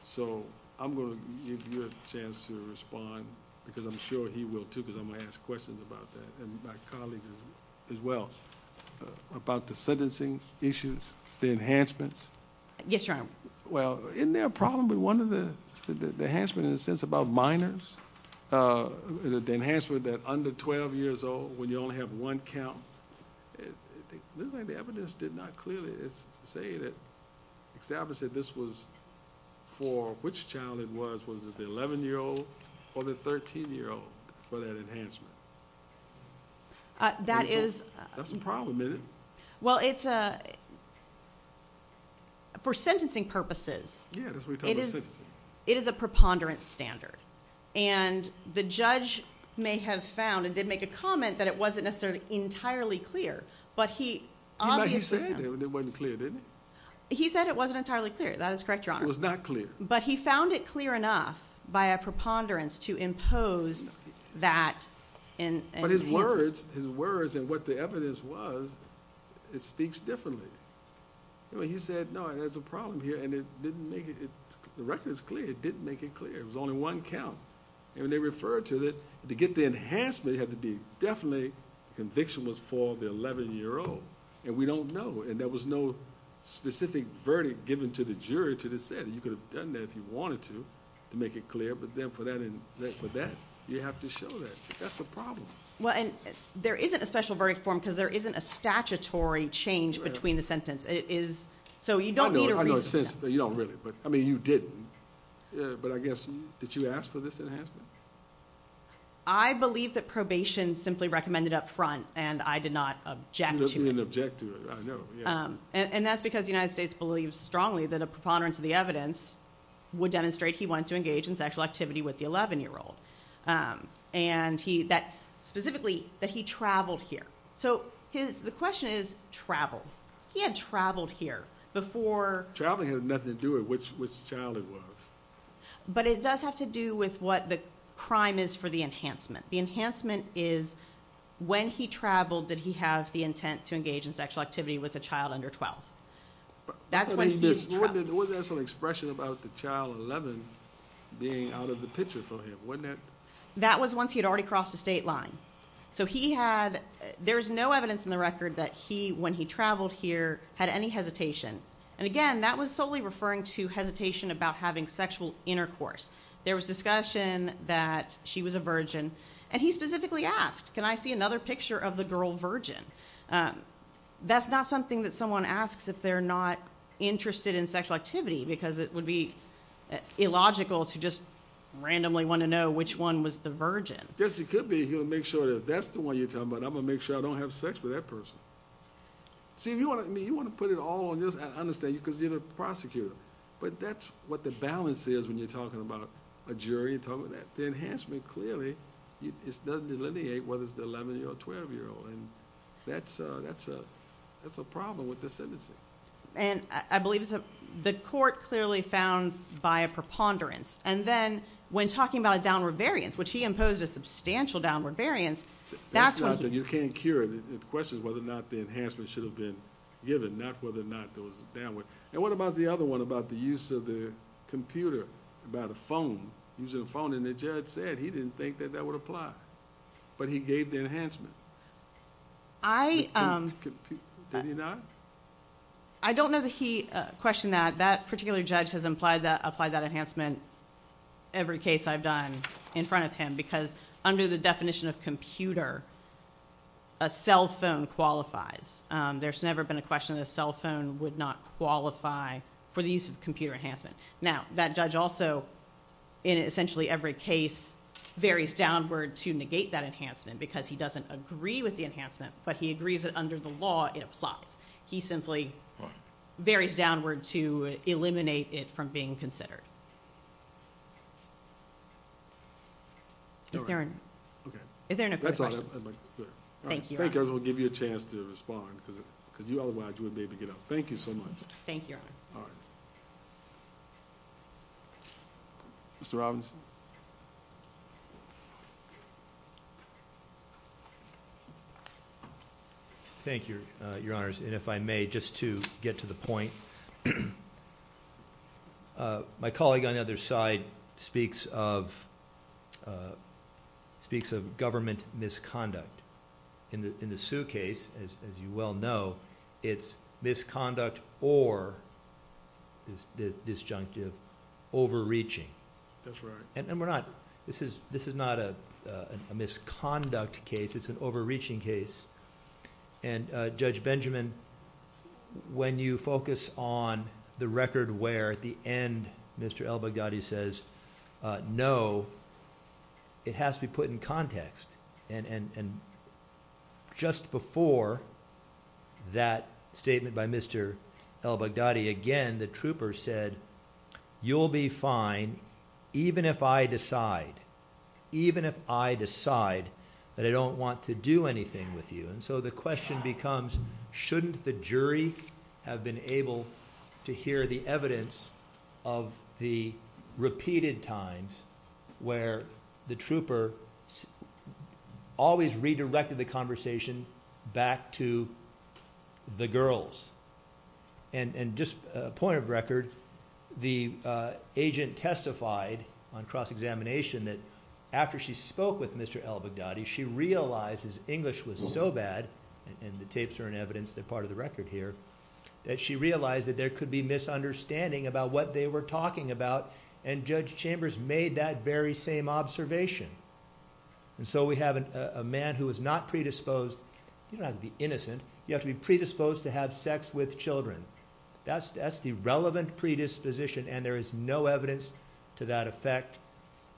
So I'm going to give you a chance to respond because I'm sure he will too, because I'm going to ask questions about that. And my colleagues as well, about the sentencing issues, the enhancements. Yes, your honor. Well, isn't there a problem with one of the, the enhancement in a sense about minors, the enhancement that under 12 years old, when you only have one count, the evidence did not clearly say that, establish that this was for which child it was, the 11 year old or the 13 year old for that enhancement. Uh, that is, that's a problem. Well, it's, uh, for sentencing purposes, it is a preponderance standard and the judge may have found and did make a comment that it wasn't necessarily entirely clear, but he, he said it wasn't entirely clear. That is correct, your honor. It was not clear. But he found it clear enough by a preponderance to impose that. But his words, his words and what the evidence was, it speaks differently. He said, no, there's a problem here. And it didn't make it. The record is clear. It didn't make it clear. It was only one count. And when they referred to it to get the enhancement, it had to be definitely conviction was for the 11 year old and we don't know. And there was no specific verdict given to the jury to the said, you could have done that if you wanted to, to make it clear. But then for that, and for that, you have to show that that's a problem. Well, and there isn't a special verdict form because there isn't a statutory change between the sentence. It is. So you don't need a reason, but you don't really, but I mean, you didn't, but I guess, did you ask for this enhancement? I believe that probation simply recommended up and that's because the United States believes strongly that a preponderance of the evidence would demonstrate he went to engage in sexual activity with the 11 year old. And he that specifically that he traveled here. So his, the question is travel. He had traveled here before traveling had nothing to do with which, which child it was, but it does have to do with what the crime is for the enhancement. The enhancement is when he traveled, did he have the intent to engage in sexual activity with a child under 12? That's when this was an expression about the child 11 being out of the picture for him. Wasn't that, that was once he had already crossed the state line. So he had, there's no evidence in the record that he, when he traveled here had any hesitation. And again, that was solely referring to hesitation about having sexual intercourse. There was discussion that she was a Virgin and he specifically asked, can I see another picture of the girl Virgin? Um, that's not something that someone asks if they're not interested in sexual activity because it would be illogical to just randomly want to know which one was the Virgin. Yes, it could be. He'll make sure that that's the one you're talking about. I'm gonna make sure I don't have sex with that person. See if you want me, you want to put it all on this. I understand you cause you're the prosecutor, but that's what the balance is when you're talking about a jury and talking about that. The enhancement clearly it's doesn't delineate whether it's the 11 year or 12 year old. And that's a, that's a, that's a problem with the sentencing. And I believe it's a, the court clearly found by a preponderance. And then when talking about a downward variance, which he imposed a substantial downward variance, that's when you can't cure it. The question is whether or not the enhancement should have been given, not whether or not there was a downward. And what about the other one about the use of the computer, about a phone using a phone? And the judge said he didn't think that that would apply, but he gave the enhancement. I, um, did he not? I don't know that he, uh, questioned that. That particular judge has implied that, applied that enhancement every case I've done in front of him, because under the definition of computer, a cell phone qualifies. Um, there's never been a question of the cell phone would not qualify for the use of computer enhancement. Now that judge also in essentially every case varies downward to negate that enhancement because he doesn't agree with the enhancement, but he agrees that under the law, it applies. He simply varies downward to eliminate it from being considered. Okay. Thank you. I'll give you a chance to respond because you otherwise wouldn't be able to get up. Thank you so much. Thank you, Your Honor. Mr. Robinson. Thank you, Your Honors. And if I may, just to get to the point, my colleague on the other side speaks of, uh, speaks of government misconduct in the, in the case of El-Baghdadi, which I think we all know, it's misconduct or, disjunctive, overreaching. That's right. And we're not, this is, this is not a, uh, a misconduct case. It's an overreaching case. And, uh, Judge Benjamin, when you focus on the record where at the end Mr. El-Baghdadi says, no, it has to be put in context. And, and, and just before that statement by Mr. El-Baghdadi, again, the trooper said, you'll be fine even if I decide, even if I decide that I don't want to do anything with you. And so the question becomes, shouldn't the jury have been able to hear the repeated times where the trooper always redirected the conversation back to the girls? And, and just a point of record, the, uh, agent testified on cross-examination that after she spoke with Mr. El-Baghdadi, she realized his English was so bad, and the tapes are an evidence that part of the record here, that she realized that there could be misunderstanding about what they were talking about, and Judge Chambers made that very same observation. And so we have a man who is not predisposed, you don't have to be innocent, you have to be predisposed to have sex with children. That's, that's the relevant predisposition, and there is no evidence to that effect.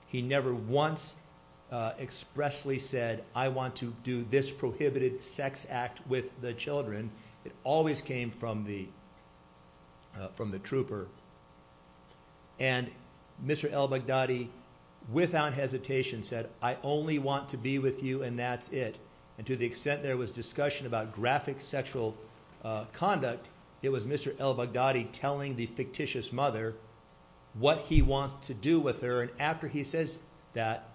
He never once, uh, expressly said, I want to do this prohibited sex act with the and Mr. El-Baghdadi without hesitation said, I only want to be with you and that's it. And to the extent there was discussion about graphic sexual, uh, conduct, it was Mr. El-Baghdadi telling the fictitious mother what he wants to do with her, and after he says that,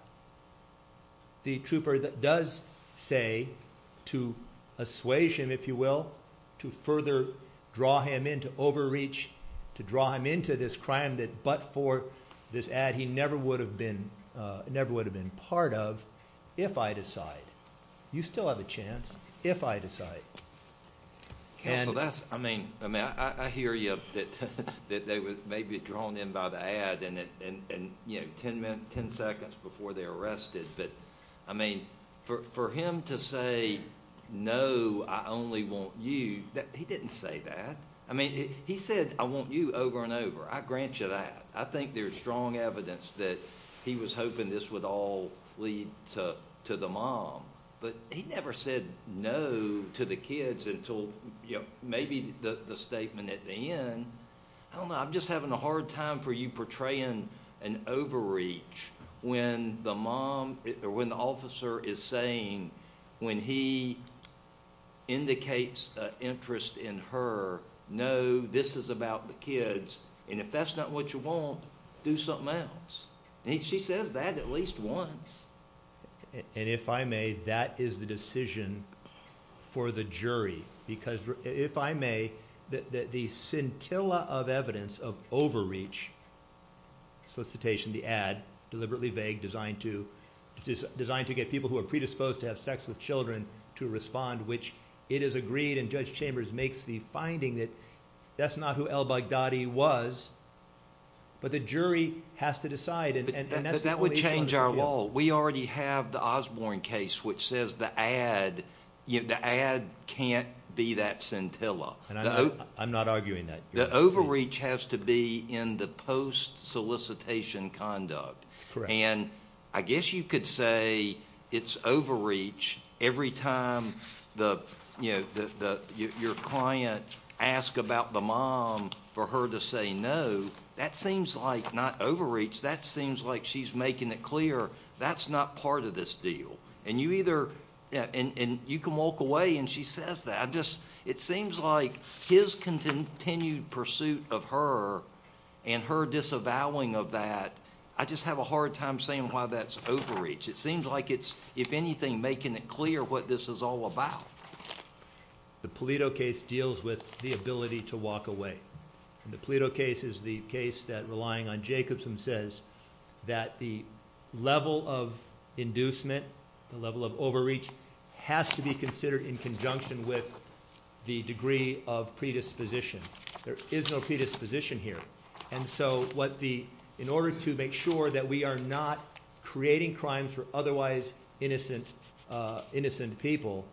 the trooper does say to assuage him, if you will, to further draw him into overreach, to draw him into this crime that, but for this ad, he never would have been, uh, never would have been part of, if I decide. You still have a chance, if I decide. Counsel, that's, I mean, I mean, I, I hear you, that, that they were maybe drawn in by the ad and, and, and, you know, 10 minutes, 10 seconds before they're arrested, but I mean, for, for him to say, no, I only want you, that, he didn't say that. I mean, he said, I want you over and over. I grant you that. I think there's strong evidence that he was hoping this would all lead to, to the mom, but he never said no to the kids until, you know, maybe the, the statement at the end, I don't know, I'm just having a hard time for you portraying an overreach when the mom, when the officer is saying, when he indicates an interest in her, no, this is about the kids, and if that's not what you want, do something else. And he, she says that at least once. And if I may, that is the decision for the jury, because if I may, that, that the scintilla of designed to get people who are predisposed to have sex with children to respond, which it is agreed, and Judge Chambers makes the finding that that's not who El Baghdadi was, but the jury has to decide. But that would change our law. We already have the Osborne case, which says the ad, you know, the ad can't be that scintilla. And I'm not arguing that. The overreach has to be in the post solicitation conduct. And I guess you could say it's overreach every time the, you know, the, the, your client ask about the mom for her to say no, that seems like not overreach, that seems like she's making it clear that's not part of this deal. And you either, and you can walk away and she says that I just, it seems like his continued pursuit of her and her disavowing of that, I just have a hard time saying why that's overreach. It seems like it's, if anything, making it clear what this is all about. The Pulido case deals with the ability to walk away. And the Pulido case is the case that relying on Jacobson says that the level of inducement, the level of overreach has to be considered in conjunction with the degree of predisposition. There is no predisposition here. And so what the, in order to make sure that we are not creating crimes for otherwise innocent, innocent people,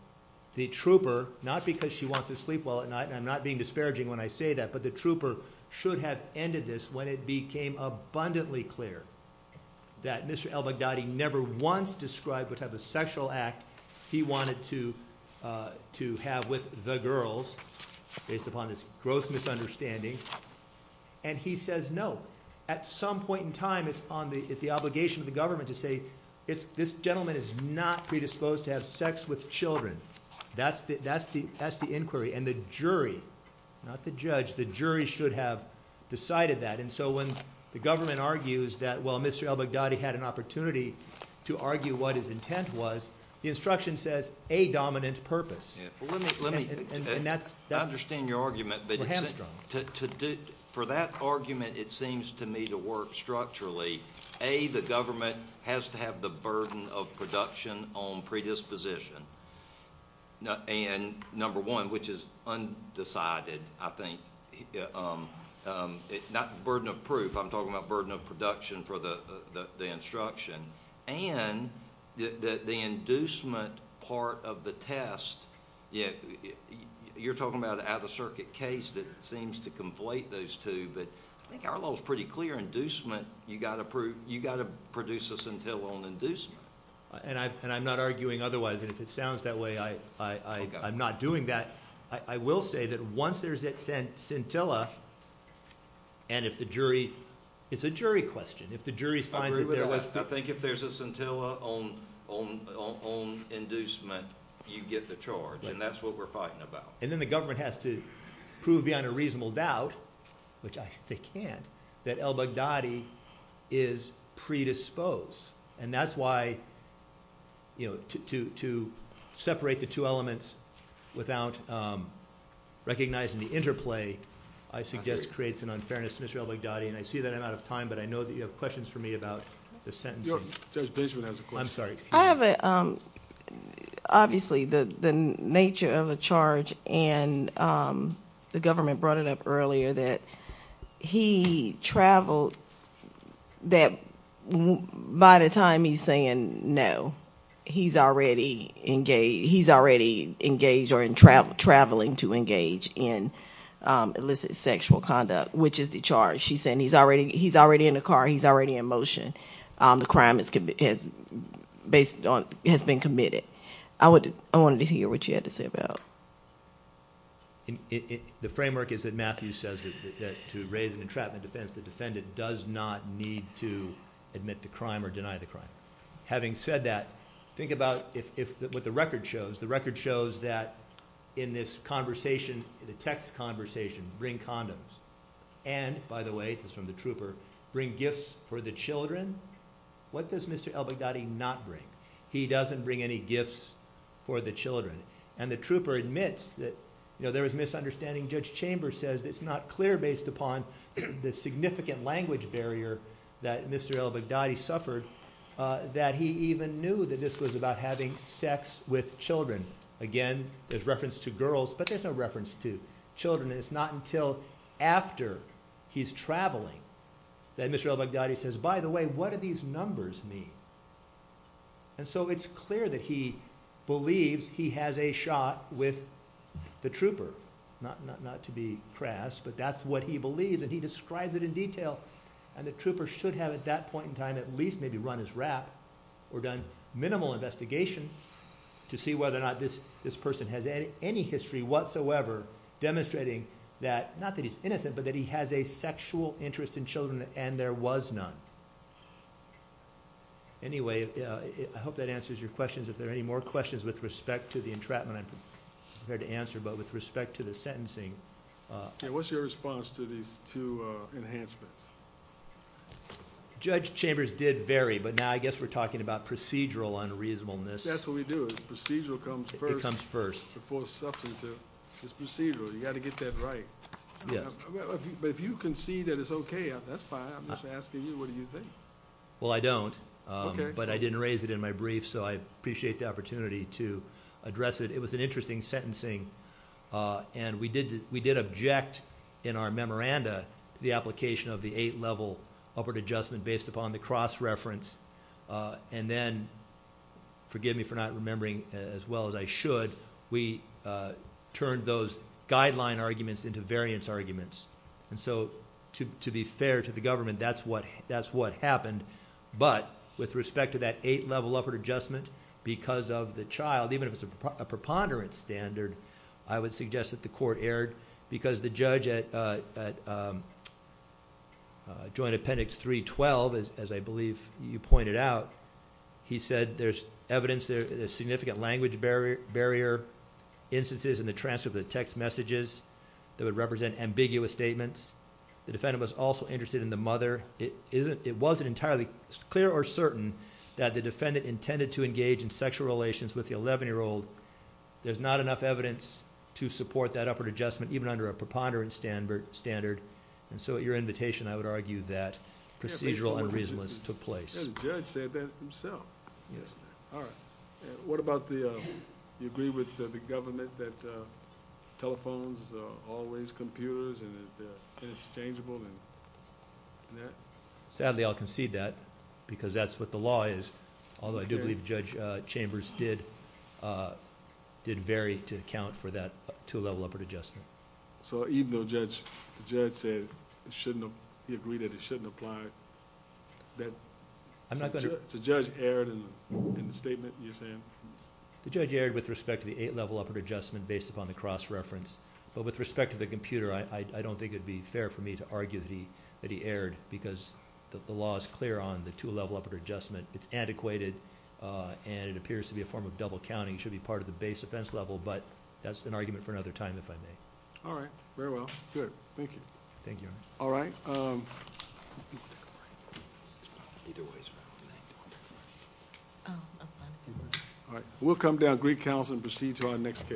the trooper, not because she wants to sleep well at night, and I'm not being disparaging when I say that, but the trooper should have ended this when it became abundantly clear that Mr. El-Baghdadi never once described what type of sexual act he wanted to, to have with the girls, based upon this gross misunderstanding. And he says no. At some point in time it's on the, it's the obligation of the government to say, it's, this gentleman is not predisposed to have sex with children. That's the, that's the, that's the inquiry. And the jury, not the judge, the jury should have decided that. And so when the government argues that, well, Mr. El-Baghdadi had an opportunity to argue what his intent was, the instruction says, a dominant purpose. And that's, I understand your argument, but for that argument, it seems to me to work structurally. A, the government has to have the burden of production on predisposition. And number one, which is undecided, I think, not burden of proof, I'm talking about burden of production for the instruction. And the inducement part of the test, you're talking about an out-of-circuit case that seems to conflate those two, but I think our law's pretty clear. Inducement, you gotta prove, you gotta produce a scintilla on inducement. And I, and I'm not arguing otherwise, and if it sounds that way, I, I, I, I'm not doing that. I, I will say that once there's that scintilla, and if the jury, it's a jury question, if the jury finds it, I think if there's a scintilla on, on, on, on inducement, you get the charge. And that's what we're fighting about. And then the which I, they can't, that El-Baghdadi is predisposed. And that's why, you know, to, to, to separate the two elements without recognizing the interplay, I suggest creates an unfairness to Mr. El-Baghdadi. And I see that I'm out of time, but I know that you have questions for me about the sentencing. I'm sorry, excuse me. I have a, obviously the, the nature of the charge and the government brought it up earlier that he traveled, that by the time he's saying no, he's already engaged, he's already engaged or in travel, traveling to engage in illicit sexual conduct, which is the charge. She's saying he's already, he's already in the car, he's already in motion. The crime is, has based on, has been committed. I would, I wanted to hear what you had to say about it. The framework is that Matthew says that, that to raise an entrapment defense, the defendant does not need to admit the crime or deny the crime. Having said that, think about if, if what the record shows, the record shows that in this conversation, the text conversation, bring condoms. And by the way, it was from the trooper, bring gifts for the children. What does Mr. El-Baghdadi not bring? He doesn't bring any gifts for the children. And the trooper admits that, you know, there was misunderstanding. Judge Chambers says it's not clear based upon the significant language barrier that Mr. El-Baghdadi suffered, that he even knew that this was about having sex with children. Again, there's reference to girls, but there's no reference to children. And it's not until after he's traveling that Mr. El-Baghdadi says, by the way, what do these numbers mean? And so it's clear that he believes he has a shot with the trooper, not to be crass, but that's what he believes. And he describes it in detail. And the trooper should have at that point in time, at least maybe run his rap or done minimal investigation to see whether or not this, this person has any history whatsoever demonstrating that, not that he's innocent, but that he has a sexual interest in children and there was none. Anyway, I hope that answers your questions. If there are any more questions with respect to the entrapment, I'm prepared to answer, but with respect to the sentencing. Yeah. What's your response to these two enhancements? Judge Chambers did vary, but now I guess we're talking about procedural unreasonableness. That's what we do. Procedural comes first. It comes first. Before substantive. It's procedural. You got to get that right. But if you concede that it's okay, that's fine. I'm just asking you, what do you think? Well, I don't, but I didn't raise it in my brief, so I appreciate the opportunity to address it. It was an interesting sentencing. And we did, we did object in our memoranda, the application of the eight level upward adjustment based upon the cross reference. And then forgive me for not remembering as well as I should, we turned those guideline arguments into variance arguments. And so to be fair to the government, that's what happened. But with respect to that eight level upward adjustment, because of the child, even if it's a preponderance standard, I would suggest that the court erred because the judge at Joint Appendix 312, as I believe you pointed out, he said there's evidence, there's significant language barrier instances in the transcript, the text messages that would represent ambiguous statements. The defendant was also interested in the mother. It wasn't entirely clear or certain that the defendant intended to engage in sexual relations with the eleven-year-old. There's not enough evidence to support that upward adjustment, even under a preponderance standard. And so at your invitation, I would argue that procedural unreasonable took place. The judge said that himself. What about the... do you agree with the government that telephones are always computers and they're interchangeable and that? Sadly, I'll concede that because that's what the law is, although I do believe Judge Chambers did vary to account for that two level upward adjustment. So even though the judge said he agreed that it shouldn't apply, the judge erred in the statement you're saying? The judge erred with respect to the eight level upward adjustment based upon the cross reference, but with respect to the computer, I don't think it would be fair for me to argue that he erred because the law is clear on the two level upward adjustment. It's antiquated and it appears to be a form of double counting. It should be part of the base offense level, but that's an argument for another time, if I may. All right. Very well. Good. Thank you. Thank you, Your Honor. All right. All right. We'll come down, greet counsel, and proceed to our next case.